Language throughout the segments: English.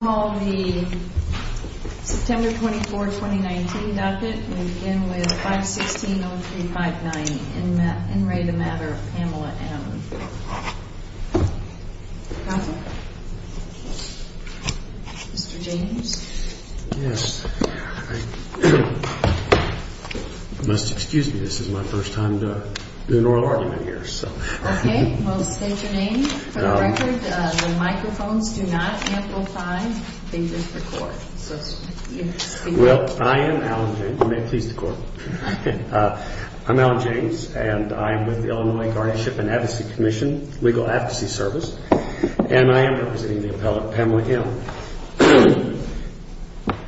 We'll call the September 24, 2019 docket and begin with 516-0359, En Ray, The Matter of Pamela M. Mr. James? Yes. I must excuse me, this is my first time to do an oral argument here, so. Okay, well state your name, for the record, the microphones do not amplify, they just record. Well, I am Alan James, may it please the court. I'm Alan James, and I am with the Illinois Guardship and Advocacy Commission, Legal Advocacy Service, and I am representing the appellate Pamela M.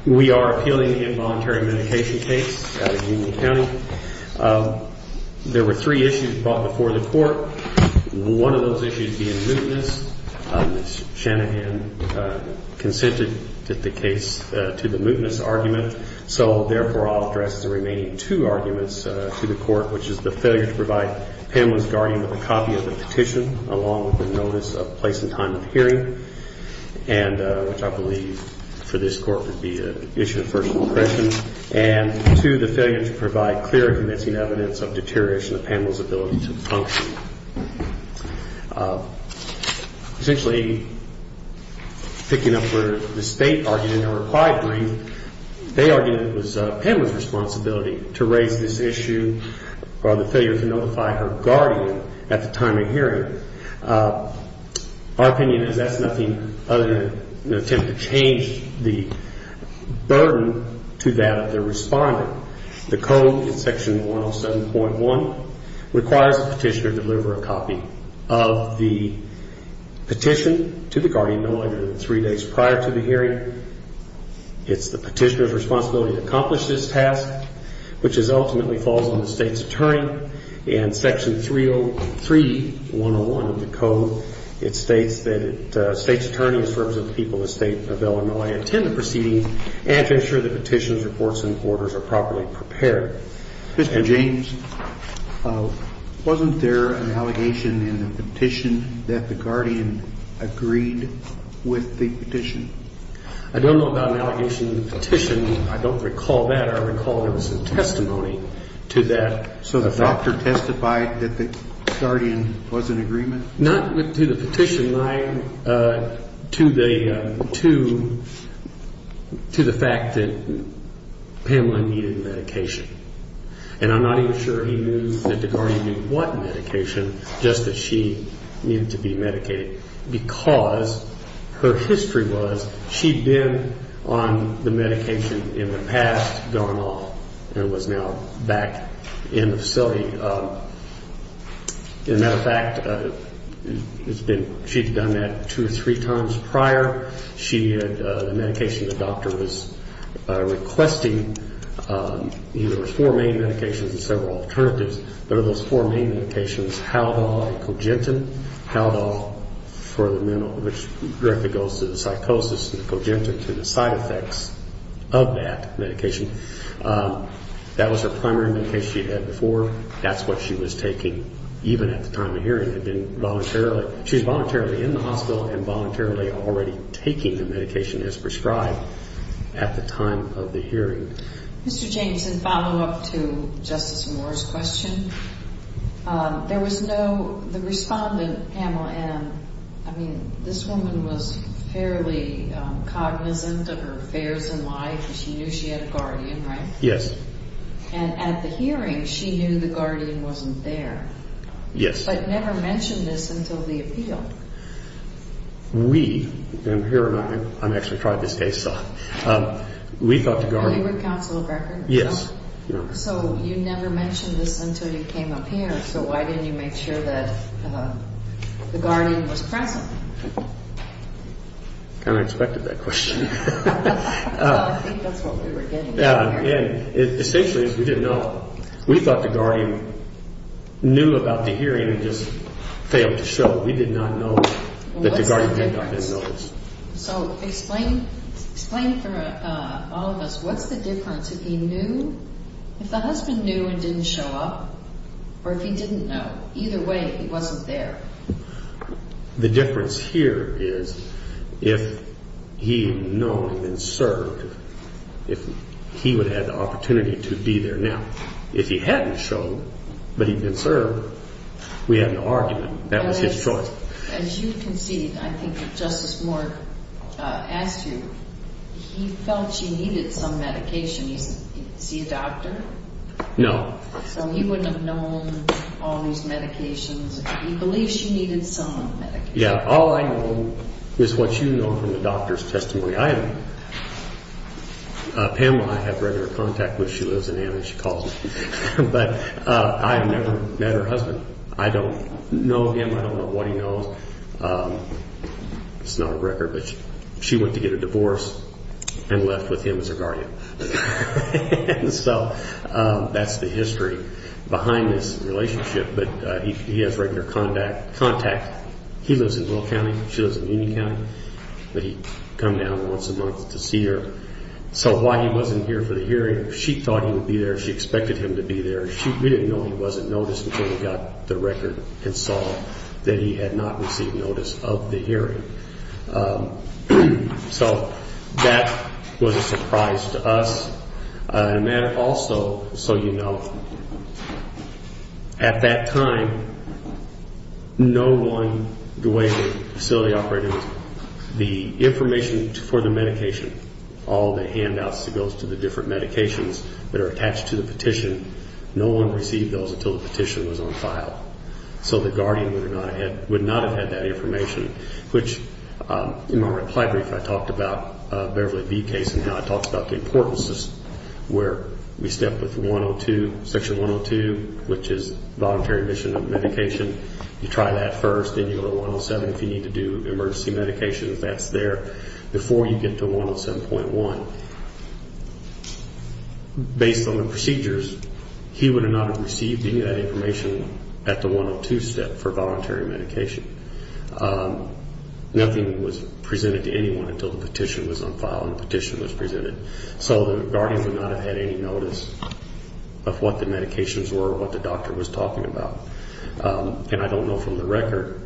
We are appealing the involuntary medication case out of Union County. There were three issues brought before the court, one of those issues being mootness. Ms. Shanahan consented to the case, to the mootness argument, so therefore I'll address the remaining two arguments to the court, which is the failure to provide Pamela's guardian with a copy of the petition, along with the notice of place and time of hearing. And which I believe for this court would be an issue of personal impression. And two, the failure to provide clear and convincing evidence of deterioration of Pamela's ability to function. Essentially, picking up where the state argued in their required brief, they argued it was Pamela's responsibility to raise this issue, or the failure to notify her guardian at the time of hearing. Our opinion is that's nothing other than an attempt to change the burden to that of the responder. The code in section 107.1 requires the petitioner to deliver a copy of the petition to the guardian no later than three days prior to the hearing. It's the petitioner's responsibility to accomplish this task, which ultimately falls on the state's attorney. In section 303.101 of the code, it states that the state's attorney, in terms of the people of the state of Illinois, attend the proceedings and to ensure the petition's reports and orders are properly prepared. Mr. James, wasn't there an allegation in the petition that the guardian agreed with the petition? I don't know about an allegation in the petition. I don't recall that. I recall there was some testimony to that. So the doctor testified that the guardian was in agreement? Not to the petition, to the fact that Pamela needed medication. And I'm not even sure he knew that the guardian needed what medication, just that she needed to be medicated, because her history was she'd been on the medication in the past, gone off, and was now back in the facility. As a matter of fact, she'd done that two or three times prior. She had the medication the doctor was requesting. There were four main medications and several alternatives. There were those four main medications, Haldol and Cogentin. Haldol for the mental, which directly goes to the psychosis, and Cogentin to the side effects of that medication. That was her primary medication she'd had before. That's what she was taking even at the time of the hearing. She was voluntarily in the hospital and voluntarily already taking the medication as prescribed at the time of the hearing. Mr. James, in follow-up to Justice Moore's question, there was no, the respondent, Pamela Ann, I mean, this woman was fairly cognizant of her affairs in life. She knew she had a guardian, right? Yes. And at the hearing, she knew the guardian wasn't there. Yes. But never mentioned this until the appeal. We, and here I am, I've actually tried this case. We thought the guardian... You were counsel of records? Yes. So you never mentioned this until you came up here, so why didn't you make sure that the guardian was present? Kind of expected that question. I think that's what we were getting at here. Essentially, we didn't know. We thought the guardian knew about the hearing and just failed to show. We did not know that the guardian had not been noticed. So explain for all of us, what's the difference if he knew, if the husband knew and didn't show up, or if he didn't know? Either way, he wasn't there. The difference here is if he had known and served, he would have had the opportunity to be there. Now, if he hadn't shown, but he'd been served, we had an argument. That was his choice. As you conceded, I think that Justice Moore asked you, he felt she needed some medication. Is he a doctor? No. So he wouldn't have known all these medications. He believes she needed some medication. Yeah, all I know is what you know from the doctor's testimony. Pamela, I have regular contact with. She lives in Ann and she calls me. But I have never met her husband. I don't know him. I don't know what he knows. It's not a record, but she went to get a divorce and left with him as her guardian. So that's the history behind this relationship. But he has regular contact. He lives in Will County. She lives in Union County. But he'd come down once a month to see her. So while he wasn't here for the hearing, she thought he would be there. She expected him to be there. We didn't know he wasn't noticed until we got the record and saw that he had not received notice of the hearing. So that was a surprise to us. And then also, so you know, at that time, no one, the way the facility operated, the information for the medication, all the handouts that goes to the different medications that are attached to the petition, no one received those until the petition was on file. So the guardian would not have had that information, which in my reply brief I talked about the Beverly B case and how I talked about the importance where we step with section 102, which is voluntary admission of medication. You try that first. Then you go to 107 if you need to do emergency medications. That's there before you get to 107.1. Based on the procedures, he would not have received any of that information at the 102 step for voluntary medication. Nothing was presented to anyone until the petition was on file and the petition was presented. So the guardian would not have had any notice of what the medications were or what the doctor was talking about. And I don't know from the record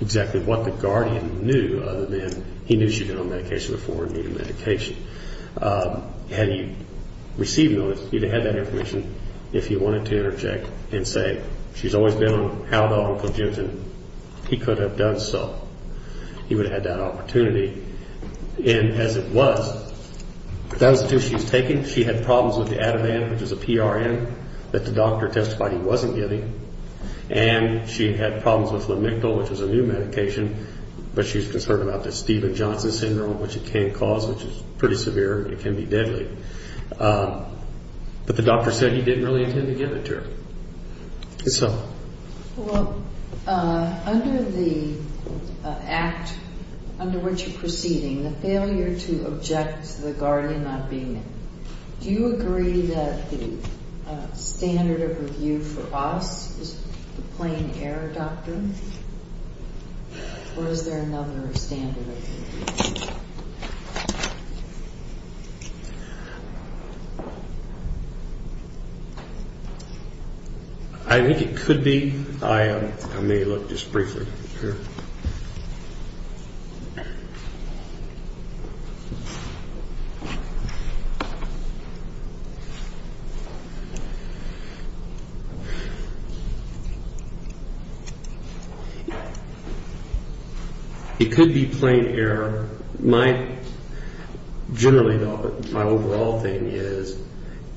exactly what the guardian knew, other than he knew she had been on medication before and needed medication. Had he received notice, he would have had that information if he wanted to interject and say, she's always been on Haldol, Uncle Jim, and he could have done so. He would have had that opportunity. And as it was, that was the trip she was taking. She had problems with the Ativan, which is a PRN that the doctor testified he wasn't getting. And she had problems with Lamictal, which is a new medication, but she was concerned about the Steven Johnson syndrome, which it can cause, which is pretty severe. It can be deadly. But the doctor said he didn't really intend to give it to her. Yes, ma'am. Well, under the act under which you're proceeding, the failure to object to the guardian not being there, do you agree that the standard of review for us is the plain error doctrine? Or is there another standard of review? I think it could be. I may look just briefly here. It could be plain error. Generally, my overall thing is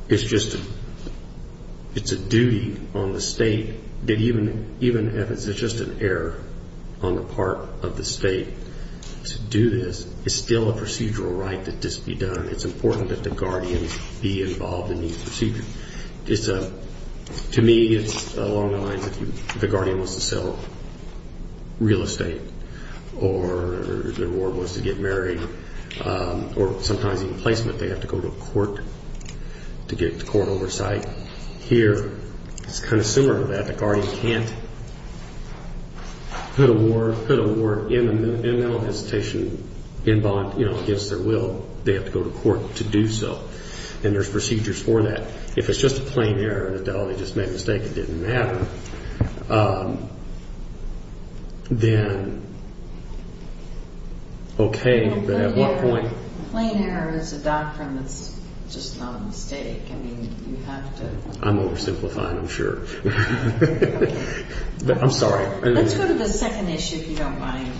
it's just a duty on the state that even if it's just an error on the part of the state to do this, it's still a procedural right that this be done. It's important that the guardian be involved in these procedures. To me, it's along the lines of the guardian wants to sell real estate or the reward was to get married or sometimes even placement. They have to go to court to get court oversight. Here, it's kind of similar to that. The guardian can't put a warrant in a mental hesitation against their will. They have to go to court to do so. And there's procedures for that. If it's just a plain error and Adelie just made a mistake, it didn't matter, then okay. But at what point? Plain error is a doctrine that's just not a mistake. I mean, you have to. I'm oversimplifying, I'm sure. I'm sorry. Let's go to the second issue, if you don't mind.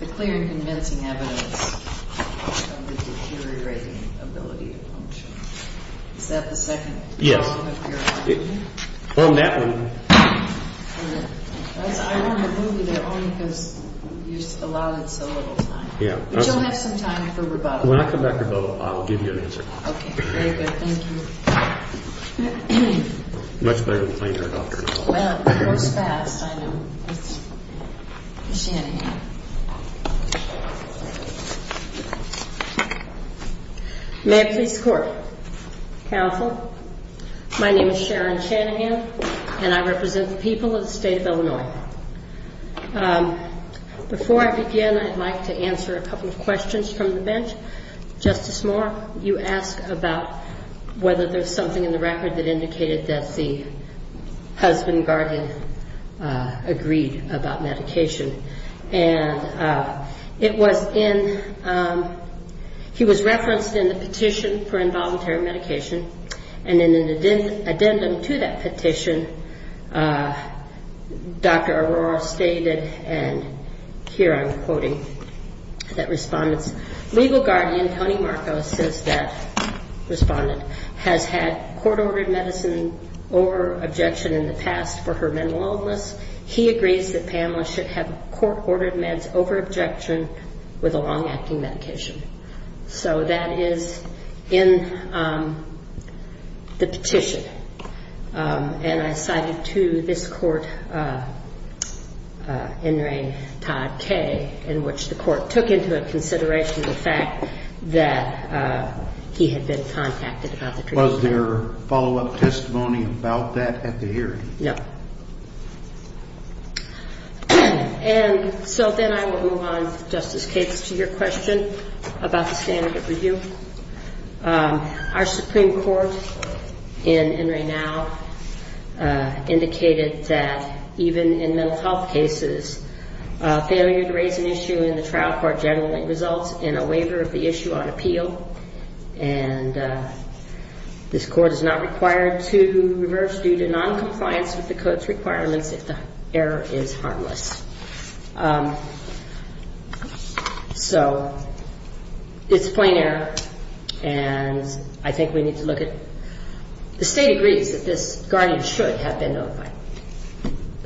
The clear and convincing evidence of the deteriorating ability to function. Is that the second? Yes. On that one. I wanted to move you there only because you allowed it so little time. But you'll have some time for rebuttal. When I come back for rebuttal, I'll give you an answer. Okay, very good. Thank you. Much better than plain error doctrine. Well, it goes fast, I know. It's Shanahan. May I please court? Counsel, my name is Sharon Shanahan, and I represent the people of the state of Illinois. Before I begin, I'd like to answer a couple of questions from the bench. Justice Moore, you asked about whether there's something in the record that indicated that the husband guardian agreed about medication. And it was in he was referenced in the petition for involuntary medication. And in an addendum to that petition, Dr. Arora stated, and here I'm quoting that respondent's legal guardian, Tony Marcos, says that respondent has had court-ordered medicine over objection in the past for her mental illness. He agrees that Pamela should have court-ordered meds over objection with a long-acting medication. So that is in the petition. And I cited to this court, in re Todd Kaye, in which the court took into consideration the fact that he had been contacted about the treatment. Was there follow-up testimony about that at the hearing? No. And so then I will move on, Justice Cates, to your question about the standard of review. Our Supreme Court in Renau indicated that even in mental health cases, failure to raise an issue in the trial court generally results in a waiver of the issue on appeal. And this court is not required to reverse due to noncompliance with the code's requirements if the error is harmless. So it's a plain error, and I think we need to look at the state agrees that this guardian should have been notified.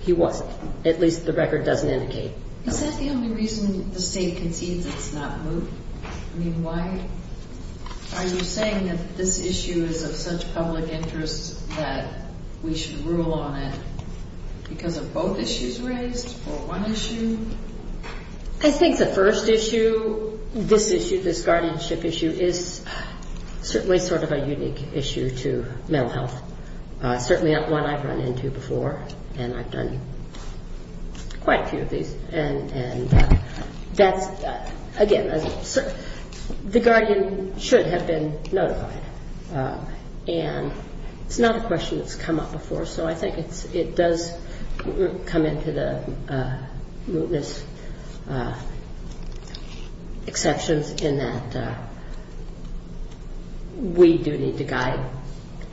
He wasn't. At least the record doesn't indicate. Is that the only reason the state concedes it's not moved? I mean, why are you saying that this issue is of such public interest that we should rule on it because of both issues raised or one issue? I think the first issue, this issue, this guardianship issue, is certainly sort of a unique issue to mental health. Certainly one I've run into before, and I've done quite a few of these. And that's, again, the guardian should have been notified. And it's not a question that's come up before, so I think it does come into the mootness exceptions in that we do need to guide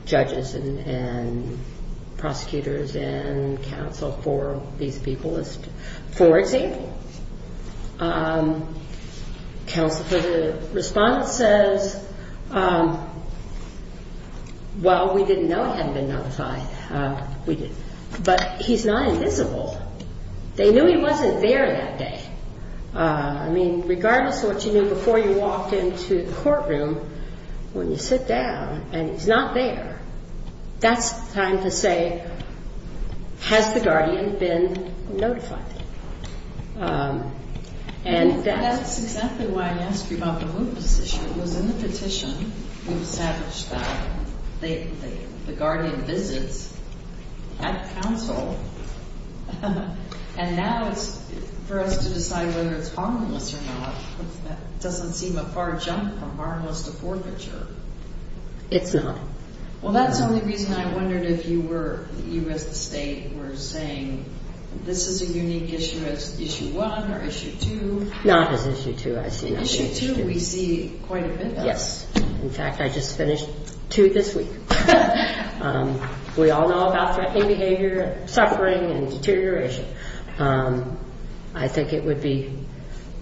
judges and prosecutors and counsel for these people. For example, counsel for the respondent says, well, we didn't know he hadn't been notified. But he's not invisible. They knew he wasn't there that day. I mean, regardless of what you knew before you walked into the courtroom, when you sit down and he's not there, that's time to say, has the guardian been notified? That's exactly why I asked you about the mootness issue. It was in the petition we established that the guardian visits at counsel, and now it's for us to decide whether it's harmless or not. That doesn't seem a far jump from harmless to forfeiture. It's not. In fact, I just finished two this week. I think it would be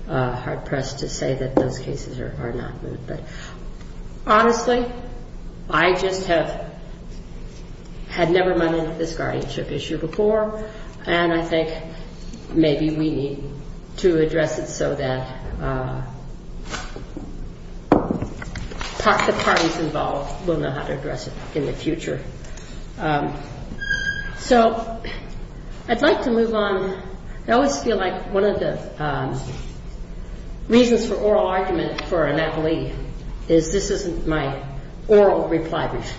hard-pressed to say that those cases are not moot. Honestly, I just have had never run into this guardianship issue before, and I think maybe we need to address it so that the parties involved will know how to address it in the future. So I'd like to move on. I always feel like one of the reasons for oral argument for an appellee is this isn't my oral reply brief.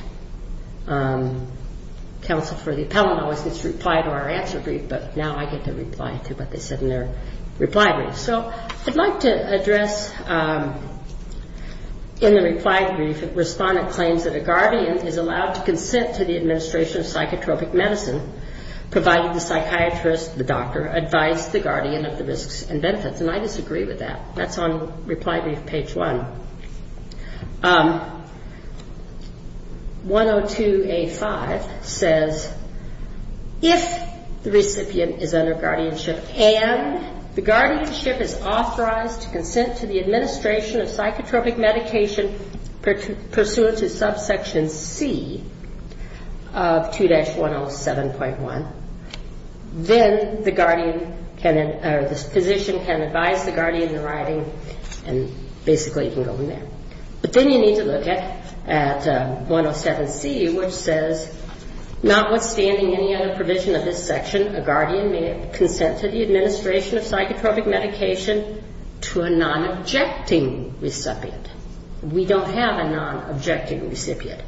Counsel for the appellant always gets to reply to our answer brief, but now I get to reply to what they said in their reply brief. So I'd like to address, in the reply brief, Respondent claims that a guardian is allowed to consent to the administration of psychotropic medicine, provided the psychiatrist, the doctor, advises the guardian of the risks and benefits. And I disagree with that. That's on reply brief page 1. 102A5 says if the recipient is under guardianship and the guardianship is authorized to consent to the administration of psychotropic medication pursuant to subsection C of 2-107.1, then the physician can advise the guardian in writing and basically you can go from there. But then you need to look at 107C, which says notwithstanding any other provision of this section, a guardian may consent to the administration of psychotropic medication to a non-objecting recipient. We don't have a non-objecting recipient.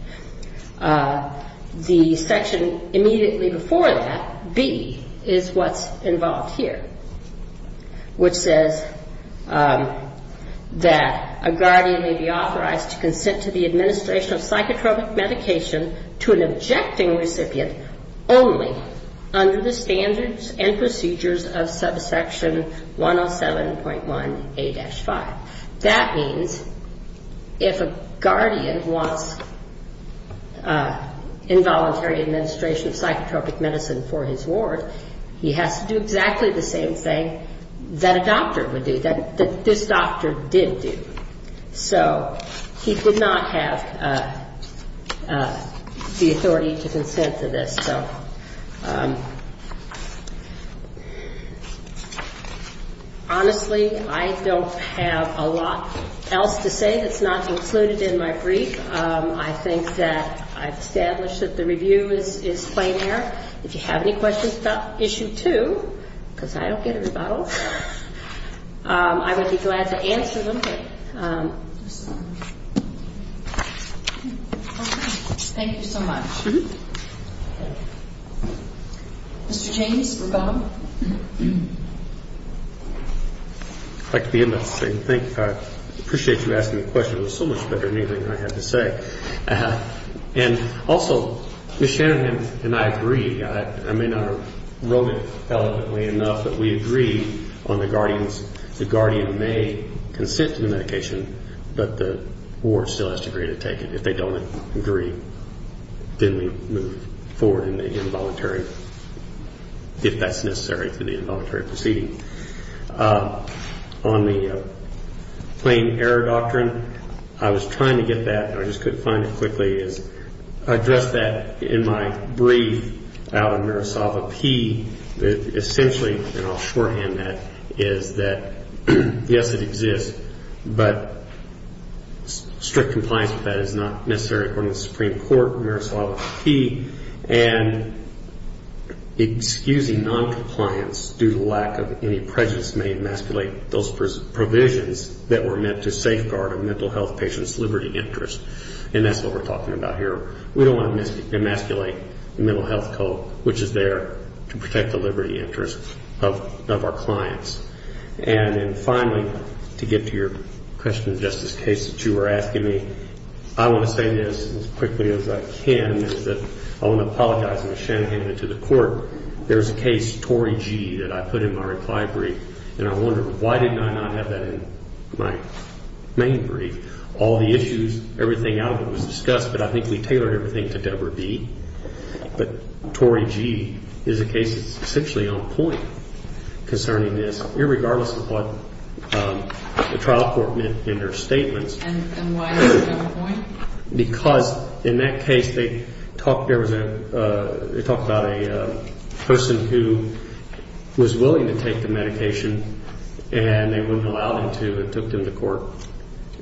The section immediately before that, B, is what's involved here, which says that a guardian may be authorized to consent to the administration of psychotropic medication to an objecting recipient only under the standards and procedures of subsection 107.1A-5. That means if a guardian wants involuntary administration of psychotropic medicine for his ward, he has to do exactly the same thing that a doctor would do, that this doctor did do. So he could not have the authority to consent to this. So honestly, I don't have a lot else to say that's not included in my brief. I think that I've established that the review is plain air. If you have any questions about Issue 2, because I don't get a rebuttal, I would be glad to answer them. Okay. Thank you so much. Mr. James, we're gone. I'd like to begin by saying thank you. I appreciate you asking the question. It was so much better than anything I had to say. And also, Ms. Shanahan and I agree, I may not have wrote it eloquently enough, but we agree on the guardians, the guardian may consent to the medication, but the ward still has to agree to take it. If they don't agree, then we move forward in the involuntary, if that's necessary for the involuntary proceeding. On the plain air doctrine, I was trying to get that, and I just couldn't find it quickly. I addressed that in my brief out in Marisalva P. Essentially, and I'll shorthand that, is that, yes, it exists, but strict compliance with that is not necessary according to the Supreme Court in Marisalva P. And excusing noncompliance due to lack of any prejudice may emasculate those provisions that were meant to safeguard a mental health patient's liberty interest, and that's what we're talking about here. We don't want to emasculate the mental health code, which is there to protect the liberty interest of our clients. And then finally, to get to your question of justice case that you were asking me, I want to say this as quickly as I can, is that I want to apologize. When Shanahan went to the court, there was a case, Tory G., that I put in my reply brief, and I wondered why did I not have that in my main brief? All the issues, everything out of it was discussed, but I think we tailored everything to Deborah B. But Tory G. is a case that's essentially on point concerning this, regardless of what the trial court meant in their statements. And why is it on point? Because in that case, they talked about a person who was willing to take the medication, and they wouldn't allow them to and took them to court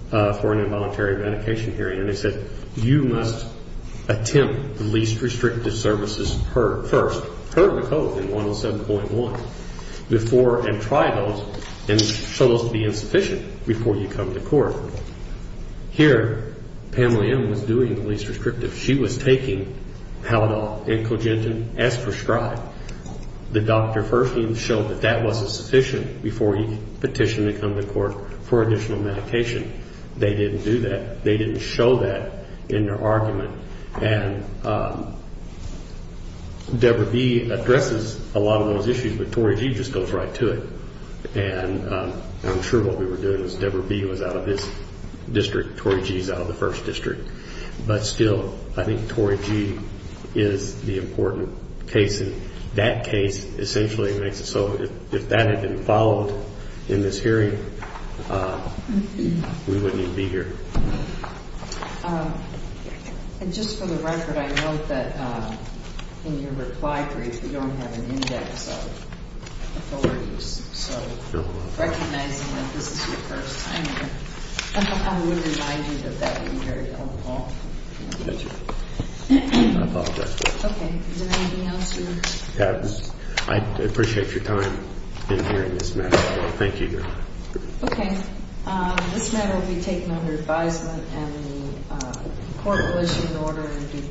for an involuntary medication hearing. And they said, you must attempt the least restrictive services first, or hear the code in 107.1, and try those and show those to be insufficient before you come to court. Here, Pamela M. was doing the least restrictive. She was taking Halodol and Cogentin as prescribed. The doctor first even showed that that wasn't sufficient before you petition to come to court for additional medication. They didn't do that. They didn't show that in their argument. And Deborah B. addresses a lot of those issues, but Tory G. just goes right to it. And I'm sure what we were doing was Deborah B. was out of this district, Tory G. is out of the first district. But still, I think Tory G. is the important case, and that case essentially makes it so, if that had been followed in this hearing, we wouldn't even be here. And just for the record, I note that in your reply brief, you don't have an index of authorities. So recognizing that this is your first time here, I would remind you that that would be very helpful. Thank you. I apologize for that. Okay. Is there anything else here? Yes. I appreciate your time in hearing this matter. Thank you. Okay. This matter will be taken under advisement, and the court will issue an order in due course.